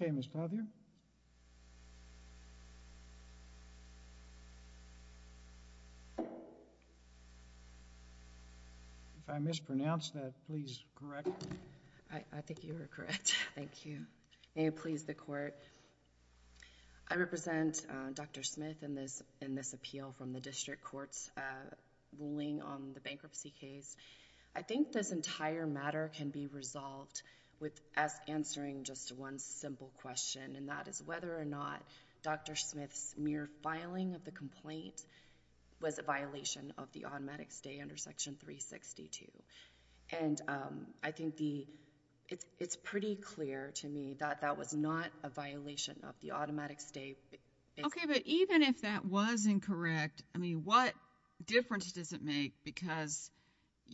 I think you are correct. Thank you. May it please the court. I represent Dr. Smith in this in this appeal from the district courts ruling on the bankruptcy case. I think this entire matter can be resolved with us answering just one simple question and that is whether or not Dr. Smith's mere filing of the complaint was a violation of the automatic stay under section 362. And I think the it's it's pretty clear to me that that was not a violation of the automatic stay. Okay, but even if that was incorrect, I mean, what difference does it make? Because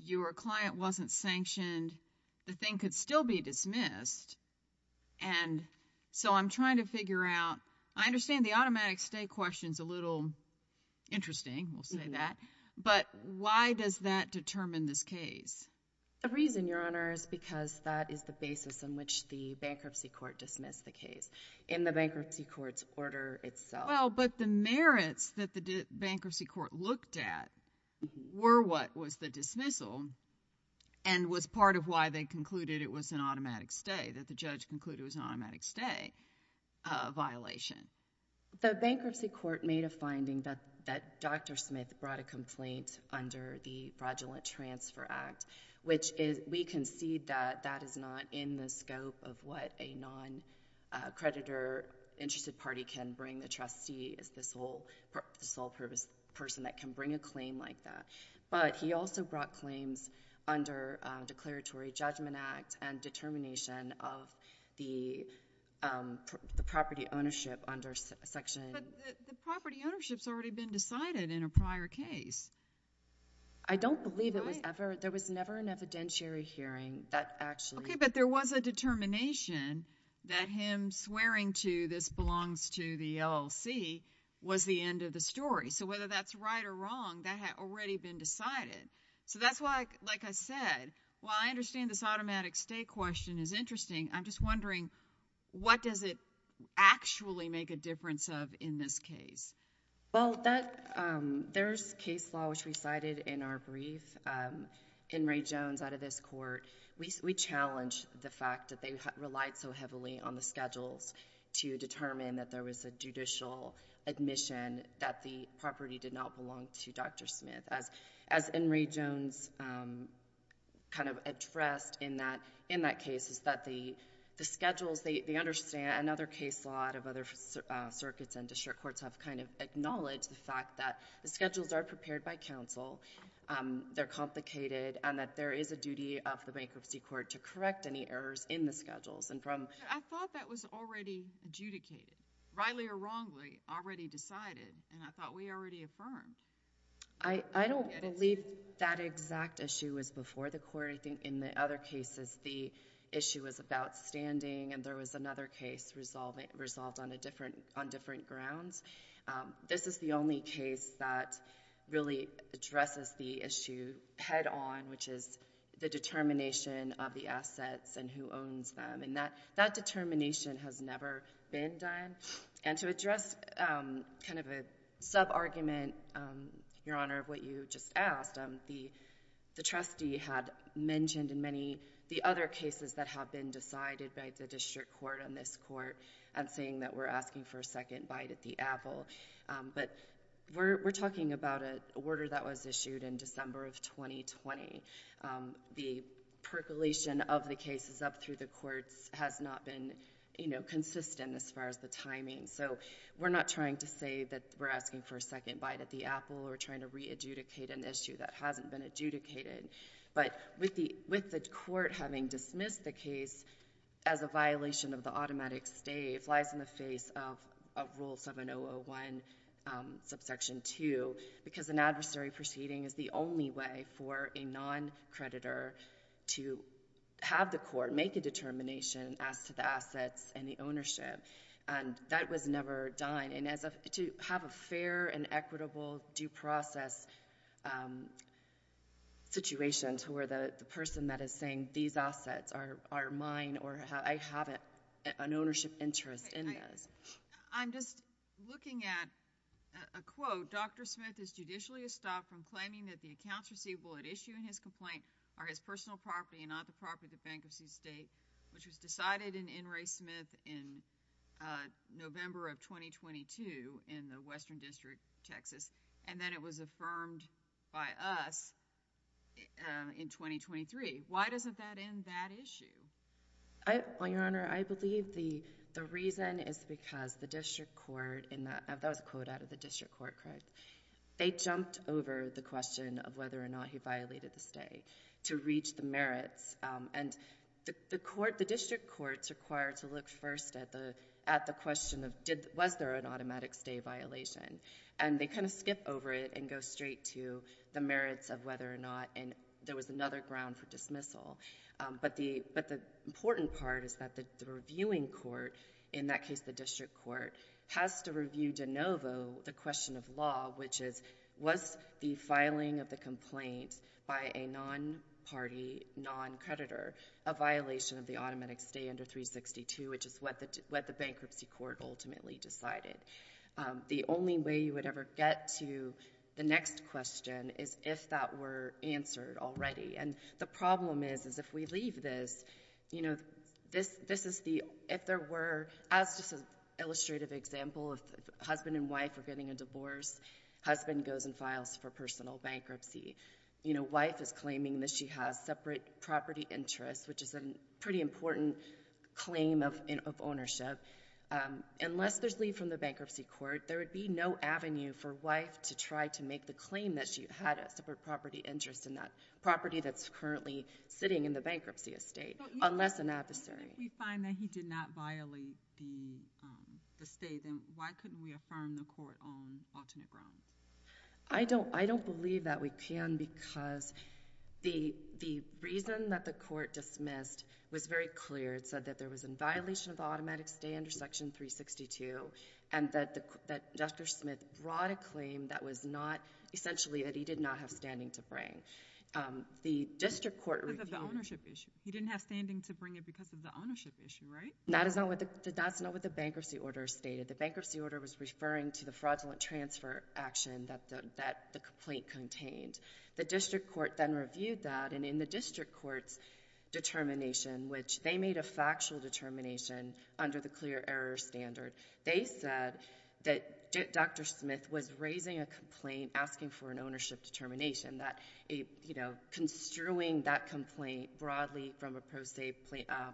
your client wasn't sanctioned, the thing could still be dismissed. And so I'm trying to figure out, I understand the automatic stay question is a little interesting. We'll say that. But why does that determine this case? The reason, Your Honor, is because that is the basis on which the bankruptcy court dismissed the case in the bankruptcy court's order itself. Well, but the merits that the bankruptcy court looked at were what was the dismissal and was part of why they concluded it was an automatic stay, that the judge concluded it was an automatic stay violation. The bankruptcy court made a finding that that Dr. Smith brought a complaint under the Fraudulent Transfer Act, which we concede that that is not in the scope of what a non-creditor interested party can bring. The trustee is the sole purpose person that can bring a claim like that. But he also brought claims under Declaratory Judgment Act and determination of the property ownership under section But the property ownership's already been decided in a prior case. I don't believe it was ever. There was never an evidentiary hearing that actually Okay, but there was a determination that him swearing to this belongs to the LLC was the end of the story. So whether that's right or wrong, that had already been decided. So that's why, like I said, while I understand this automatic stay question is interesting, I'm just wondering, what does it actually make a difference of in this case? Well, there's case law, which we cited in our brief. In Ray Jones, out of this court, we challenged the fact that they relied so heavily on the schedules to determine that there was a judicial admission that the property did not belong to Dr. Smith. As in Ray Jones kind of addressed in that case is that the schedules, they understand, and other case law out of other circuits and district courts have kind of acknowledged the fact that the schedules are prepared by counsel, they're complicated, and that there is a duty of the bankruptcy court to correct any errors in the schedules. I thought that was already adjudicated, rightly or wrongly already decided, and I thought we already affirmed. I don't believe that exact issue was before the court. I think in the other cases, the issue was about standing, and there was another case resolved on different grounds. This is the only case that really addresses the issue head on, which is the determination of the assets and who owns them, and that determination has never been done. And to address kind of the sub-argument, Your Honor, of what you just asked, the trustee had mentioned in many the other cases that have been decided by the district court on this court and saying that we're asking for a second bite at the apple, but we're talking about an order that was issued in December of 2020. The percolation of the cases up through the courts has not been consistent as far as the timing, so we're not trying to say that we're asking for a second bite at the apple or trying to re-adjudicate an issue that hasn't been adjudicated. But with the court having dismissed the case as a violation of the automatic stay, it flies in the face of Rule 7001, Subsection 2, because an adversary proceeding is the only way for a non-creditor to have the court make a determination as to the assets and the ownership, and that was never done. And to have a fair and equitable due process situation to where the person that is saying these assets are mine or I have an ownership interest in those. I'm just looking at a quote. Dr. Smith is judicially estopped from claiming that the issue in his complaint are his personal property and not the property of the Bank of Seas State, which was decided in N. Ray Smith in November of 2022 in the Western District, Texas, and then it was affirmed by us in 2023. Why doesn't that end that issue? Well, Your Honor, I believe the reason is because the district court, and that was a quote out of the district court, correct? They jumped over the question of whether or not he violated the stay to reach the merits, and the district courts are required to look first at the question of was there an automatic stay violation, and they kind of skip over it and go straight to the merits of whether or not there was another ground for dismissal. But the important part is that the reviewing court, in that case the district court, has to review de novo the question of law, which is was the filing of the complaint by a non-party non-creditor a violation of the automatic stay under 362, which is what the bankruptcy court ultimately decided. The only way you would ever get to the next question is if that were answered already, and the problem is, is if we leave this, you know, this is the, if there were, as just an illustrative example, if the husband and wife are getting a divorce, husband goes and files for personal bankruptcy. You know, wife is claiming that she has separate property interests, which is a pretty important claim of ownership. Unless there's leave from the bankruptcy court, there would be no avenue for wife to try to make the claim that she had a separate property interest in that property that's currently sitting in the bankruptcy estate, unless an adversary. But if we find that he did not violate the stay, then why couldn't we affirm the court on alternate grounds? I don't believe that we can, because the reason that the court dismissed was very clear. It said that there was a violation of the automatic stay under Section 362, and that Dr. Smith brought a claim that was not, essentially, that he did not have standing to bring. The district court reviewed— Because of the ownership issue. He didn't have standing to bring it because of the ownership issue, right? That is not what the bankruptcy order stated. The bankruptcy order was referring to the fraudulent transfer action that the complaint contained. The district court then reviewed that, and in the district court's determination, which they made a factual determination under the clear error standard, they said that Dr. Smith was raising a complaint asking for an automatic stay. They were construing that complaint broadly from a pro se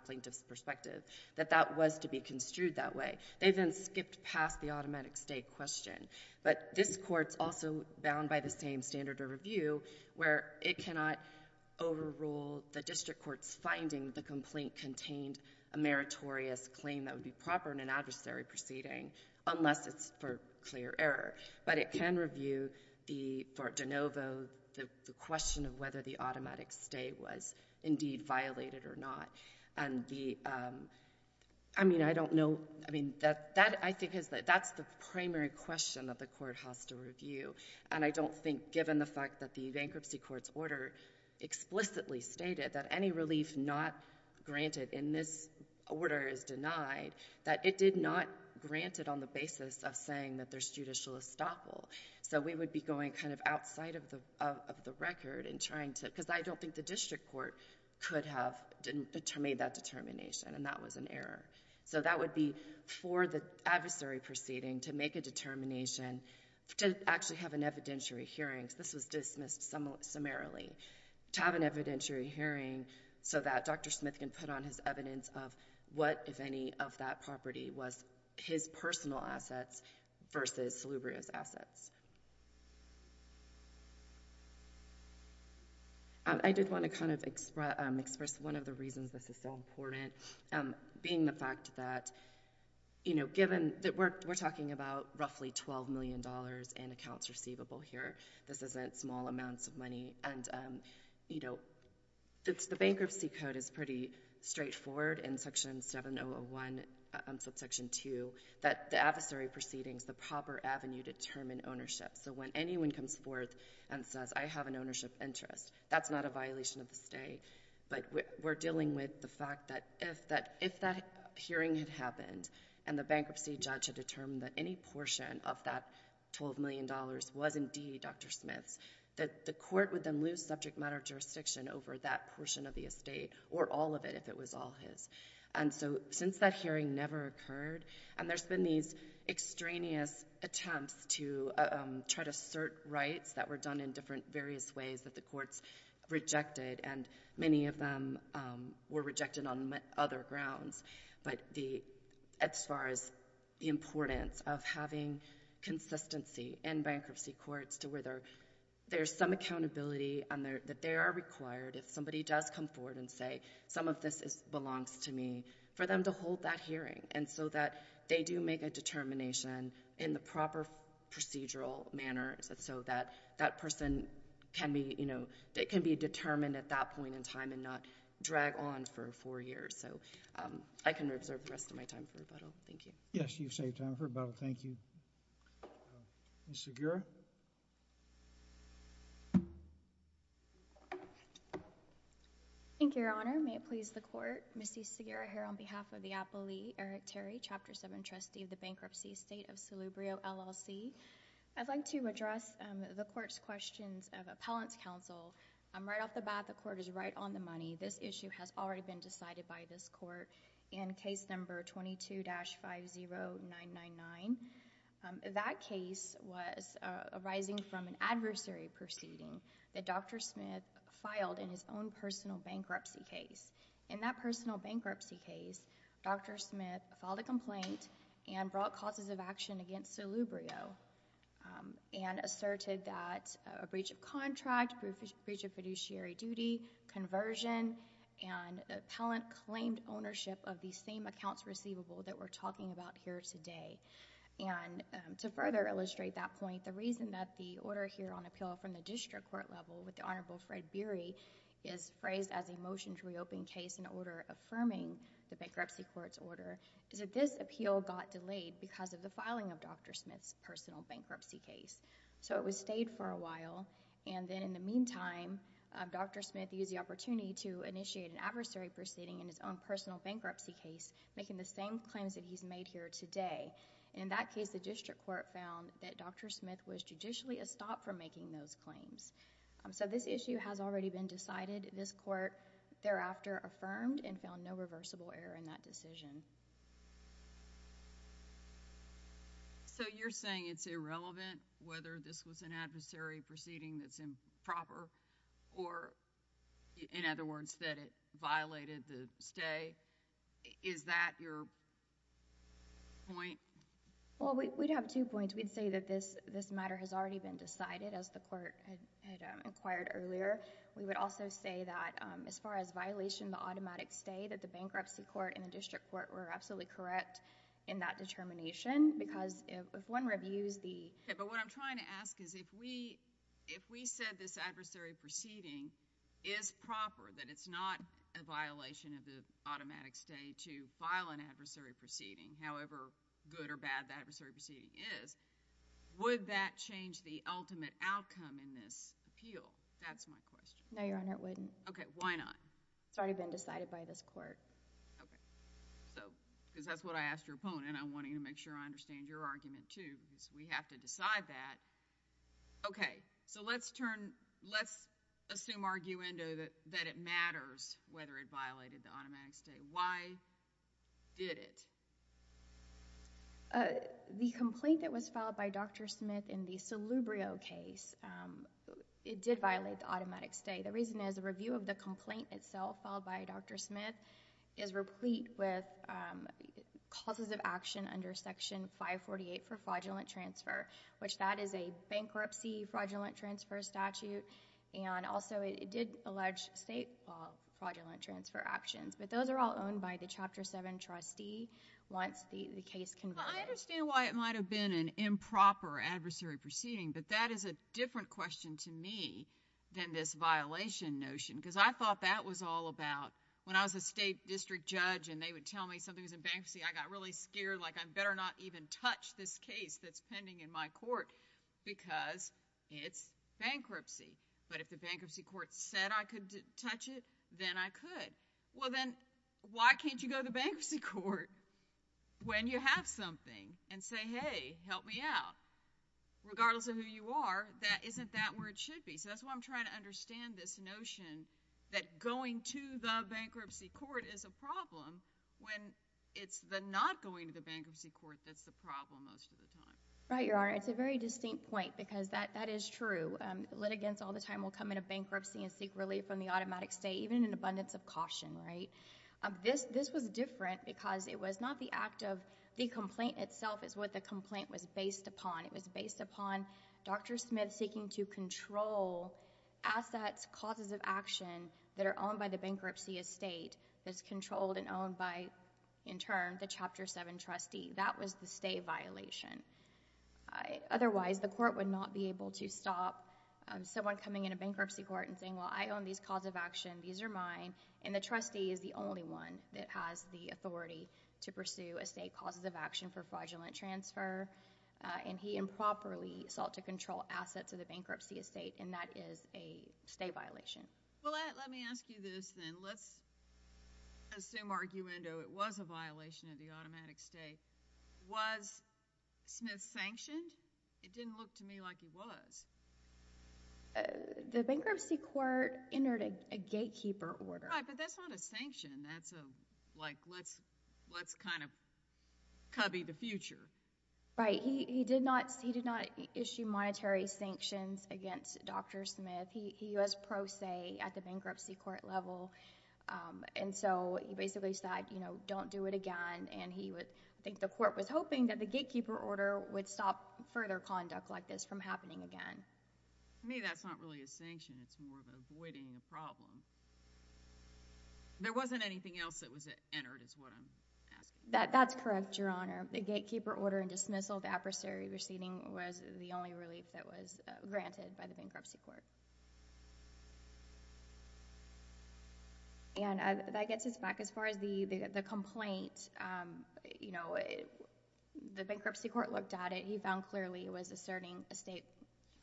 plaintiff's perspective, that that was to be construed that way. They then skipped past the automatic stay question. But this Court's also bound by the same standard of review, where it cannot overrule the district court's finding that the complaint contained a meritorious claim that would be proper in an adversary proceeding, unless it's for clear error. But it can review the question of whether the automatic stay was indeed violated or not. And the—I mean, I don't know—I mean, that, I think, is the—that's the primary question that the Court has to review. And I don't think, given the fact that the bankruptcy court's order explicitly stated that any relief not granted in this order is denied, that it did not grant it on the basis of saying that there's judicial estoppel. So we would be going kind of outside of the record and trying to—because I don't think the district court could have made that determination, and that was an error. So that would be for the adversary proceeding to make a determination, to actually have an evidentiary hearing—this was dismissed summarily—to have an evidentiary hearing so that Dr. Smith can put on his evidence of what, if any, of that property was his personal assets versus Salubria's assets. I did want to kind of express one of the reasons this is so important, being the fact that, you know, given—we're talking about roughly $12 million in accounts receivable here. This isn't small amounts of money. And, you know, the bankruptcy code is pretty straightforward in Section 7001, Subsection 2, that the adversary proceedings, the proper avenue to determine ownership. So when anyone comes forth and says, I have an ownership interest, that's not a violation of the stay. But we're dealing with the fact that if that hearing had happened and the bankruptcy judge had determined that any portion of that $12 million was indeed Dr. Smith's, that the court would then lose subject matter jurisdiction over that portion of the estate, or all of it, if it was all his. And so since that hearing never occurred, and there's been these extraneous attempts to try to assert rights that were done in different various ways that the courts rejected, and many of them were rejected on other grounds, but as far as the importance of having consistency in bankruptcy courts to where there's some accountability and that they are required if somebody does come forward and say, some of this belongs to me, for them to hold that hearing and so that they do make a determination in the proper procedural manner so that that person can be, you know, can be determined at that point in time and not drag on for four years. So I can reserve the rest of my time for rebuttal. Thank you. Yes, you've saved time for rebuttal. Thank you. Ms. Segura? Thank you, Your Honor. May it please the Court, Ms. C. Segura here on behalf of the Appellee, Eric Terry, Chapter 7 Trustee of the Bankruptcy State of Salubrio, LLC. I'd like to address the Court's questions of Appellant's Counsel. Right off the bat, the Court is right on the money. This issue has already been decided by this Court in Case No. 22-50999. That case was arising from an adversary proceeding that Dr. Smith filed in his own personal bankruptcy case. In that personal bankruptcy case, Dr. Smith filed a complaint and brought causes of action against Salubrio and asserted that a breach of contract, breach of fiduciary duty, conversion, and appellant claimed ownership of the same accounts receivable that we're using. To further illustrate that point, the reason that the order here on appeal from the district court level with the Honorable Fred Beery is phrased as a motion to reopen case in order affirming the bankruptcy court's order is that this appeal got delayed because of the filing of Dr. Smith's personal bankruptcy case. So it was stayed for a while. Then in the meantime, Dr. Smith used the opportunity to initiate an adversary proceeding in his own personal bankruptcy case making the same claims that he's made here today. In that case, the district court found that Dr. Smith was judicially a stop from making those claims. So this issue has already been decided. This court thereafter affirmed and found no reversible error in that decision. So you're saying it's irrelevant whether this was an adversary proceeding that's improper or in other words, that it violated the stay? Is that your point? Well, we'd have two points. We'd say that this matter has already been decided as the court had inquired earlier. We would also say that as far as violation of the automatic stay that the bankruptcy court and the district court were absolutely correct in that determination because if one reviews the... Okay. But what I'm trying to ask is if we said this adversary proceeding is proper, that it's not a violation of the automatic stay to file an adversary proceeding, however good or bad the adversary proceeding is, would that change the ultimate outcome in this appeal? That's my question. No, Your Honor, it wouldn't. Okay. Why not? It's already been decided by this court. Okay. So because that's what I asked your opponent and I'm wanting to make sure I understand your argument too because we have to decide that. Okay. So let's turn... let's assume arguendo that it matters whether it violated the automatic stay. Why did it? The complaint that was filed by Dr. Smith in the Salubrio case, it did violate the automatic stay. The reason is a review of the complaint itself filed by Dr. Smith is replete with causes of action under Section 548 for fraudulent transfer, which that is a bankruptcy fraudulent transfer statute and also it did allege state fraudulent transfer actions. But those are all owned by the Chapter 7 trustee once the case... I understand why it might have been an improper adversary proceeding, but that is a different question to me than this violation notion because I thought that was all about when I was a state district judge and they would tell me something was in bankruptcy, I got really scared like I better not even touch this case that's pending in my court because it's bankruptcy. But if the bankruptcy court said I could touch it, then I could. Well, then why can't you go to the bankruptcy court when you have something and say, hey, help me out? Regardless of who you are, that isn't that where it should be. So that's why I'm trying to understand this notion that going to the bankruptcy court is a problem when it's the not going to the bankruptcy court that's the problem most of the time. Right, Your Honor. It's a very distinct point because that is true. Litigants all the time will come into bankruptcy and seek relief from the automatic stay, even in abundance of caution, right? This was different because it was not the act of... the complaint itself is what the complaint was based upon. It was based upon Dr. Smith seeking to control assets, causes of action that are owned by the bankruptcy estate that's controlled and owned by, in turn, the Chapter 7 trustee. That was the stay violation. Otherwise, the court would not be able to stop someone coming into bankruptcy court and saying, well, I own these cause of action. These are mine. And the trustee is the only one that has the authority to pursue estate causes of action for fraudulent transfer. And he improperly sought to control assets of the bankruptcy estate, and that is a stay violation. Well, let me ask you this, then. Let's assume, arguendo, it was a violation of the automatic stay. Was Smith sanctioned? It didn't look to me like he was. The bankruptcy court entered a gatekeeper order. Right, but that's not a sanction. That's a, like, let's kind of cubby the future. Right. He did not issue monetary sanctions against Dr. Smith. He was pro se at the bankruptcy court level. And so he basically said, you know, don't do it again. And he would, I think the court was hoping that the gatekeeper order would stop further conduct like this from happening again. To me, that's not really a sanction. It's more of avoiding a problem. There wasn't anything else that was entered, is what I'm asking. That's correct, Your Honor. The gatekeeper order and dismissal of the adversary receiving was the only relief that was granted by the bankruptcy court. And that gets us back as far as the complaint. You know, the bankruptcy court looked at it. He found clearly it was asserting estate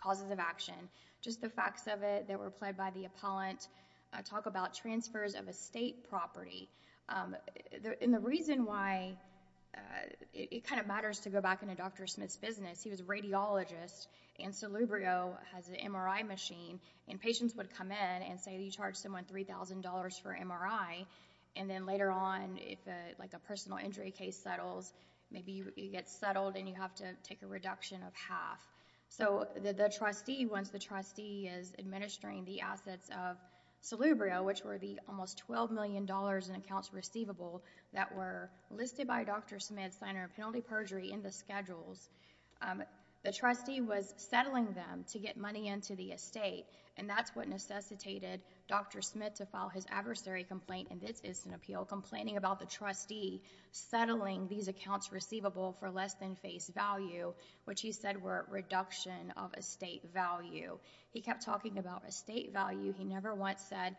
causes of action. Just the facts of it that were there. And that's why it kind of matters to go back into Dr. Smith's business. He was a radiologist and Solubrio has an MRI machine. And patients would come in and say you charge someone $3,000 for an MRI. And then later on, if like a personal injury case settles, maybe you get settled and you have to take a reduction of half. So the trustee, once the trustee is administering the assets of Solubrio, which were the almost $12 million in accounts receivable that were listed by Dr. Smith, signer of penalty perjury in the schedules, the trustee was settling them to get money into the estate. And that's what necessitated Dr. Smith to file his adversary complaint in this instant appeal, complaining about the trustee settling these accounts receivable for less than face value, which he said were a reduction of estate value. He kept talking about estate value. He never once said,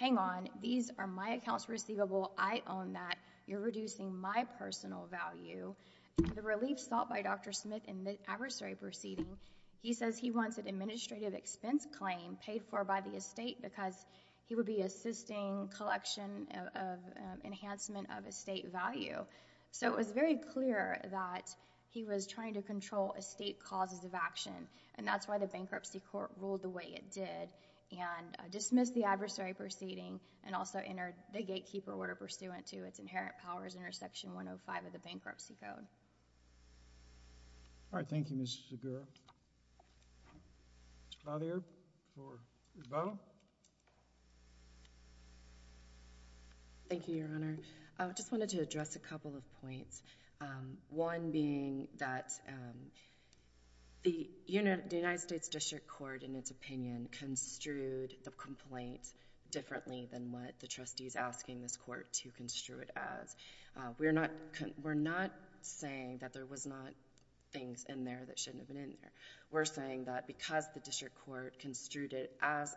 hang on, these are my accounts receivable. I own that. You're reducing my personal value. The relief sought by Dr. Smith in the adversary proceeding, he says he wants an administrative expense claim paid for by the estate because he would be assisting collection of enhancement of estate value. So it was very clear that he was trying to control estate causes of the court, ruled the way it did, and dismissed the adversary proceeding and also entered the gatekeeper order pursuant to its inherent powers under Section 105 of the Bankruptcy Code. All right. Thank you, Ms. Segura. Ms. Clothier for Ms. Bowen. Thank you, Your Honor. I just wanted to address a couple of points, one being that the United States District Court, in its opinion, construed the complaint differently than what the trustee is asking this Court to construe it as. We're not saying that there was not things in there that shouldn't have been in there. We're saying that because the District Court construed it as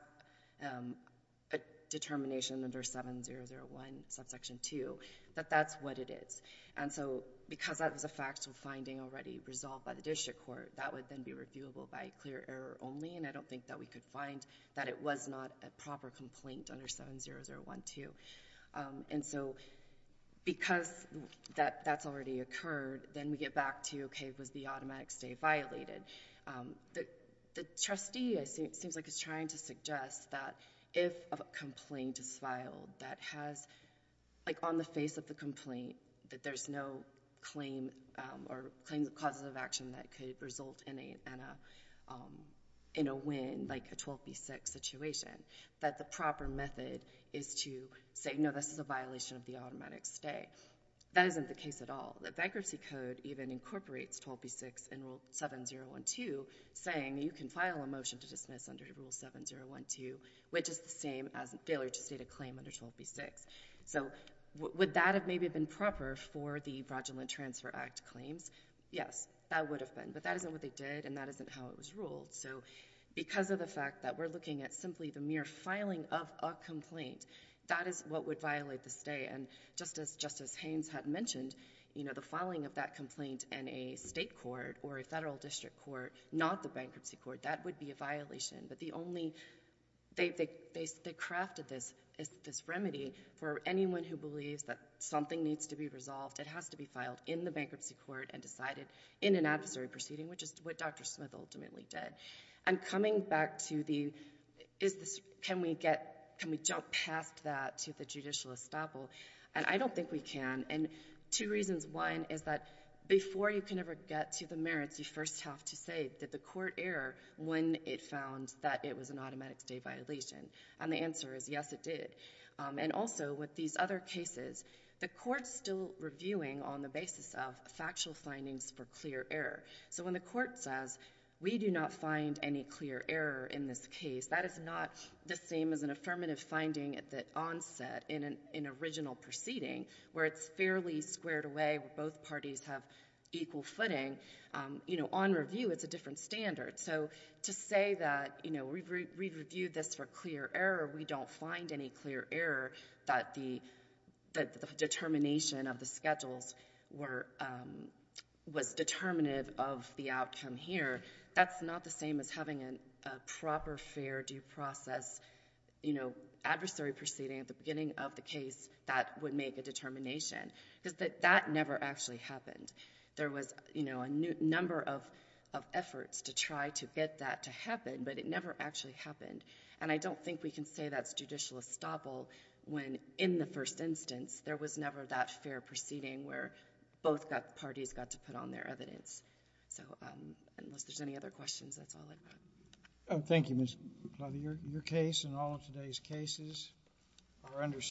a determination under 7001, Subsection 2, that that's what it is. And so because that was a factual finding already resolved by the District Court, that would then be reviewable by clear error only, and I don't think that we could find that it was not a proper complaint under 7001, too. And so because that's already occurred, then we get back to, okay, was the automatic stay violated? The trustee, it seems like, is trying to suggest that if a complaint is filed that has, like, on the face of the complaint, that there's no claim or causes of action that could result in a win, like a 12B6 situation, that the proper method is to say, no, this is a violation of the automatic stay. That isn't the case at all. The Bankruptcy Code even incorporates 12B6 in Rule 7012, saying you can file a motion to dismiss under Rule 7012, which is the same as a failure to state a claim under 12B6. So would that have maybe been proper for the Fraudulent Transfer Act claims? Yes, that would have been. But that isn't what they did, and that isn't how it was ruled. So because of the fact that we're looking at simply the mere filing of a complaint, that is what would violate the stay. And just as Justice Haynes had mentioned, you know, the filing of that complaint in a State court or a Federal District Court, not the Bankruptcy Court, that would be a violation. But the only, they crafted this remedy for anyone who believes that something needs to be resolved. It has to be filed in the Bankruptcy Court and decided in an adversary proceeding, which is what Dr. Smith ultimately did. And coming back to the, can we get, can we jump past that to the judicial estoppel? And I don't think we can. And two reasons. One is that before you can ever get to the merits, you first have to say, did the court err when it found that it was an automatic stay violation? And the answer is, yes, it did. And also, with these other cases, the Court's still reviewing on the basis of factual findings for clear error. So when the Court says, we do not find any clear error in this case, that is not the same as an affirmative finding at the onset in an original proceeding, where it's fairly squared away, where both parties have equal footing, you know, on review, it's a different standard. So to say that, you know, we've reviewed this for clear error, we don't find any clear error that the determination of the schedules were, was determinative of the outcome here, that's not the same as having a proper fair due process, you know, adversary proceeding at the beginning of the case that would make a determination, because that never actually happened. There was, you know, a number of efforts to try to get that to happen, but it never actually happened. And I don't think we can say that's judicial estoppel when, in the first instance, there was never that fair proceeding where both parties got to put on their evidence. So unless there's any other questions, that's all I've got. Thank you, Ms. Glady. Your case and all of today's cases are understood.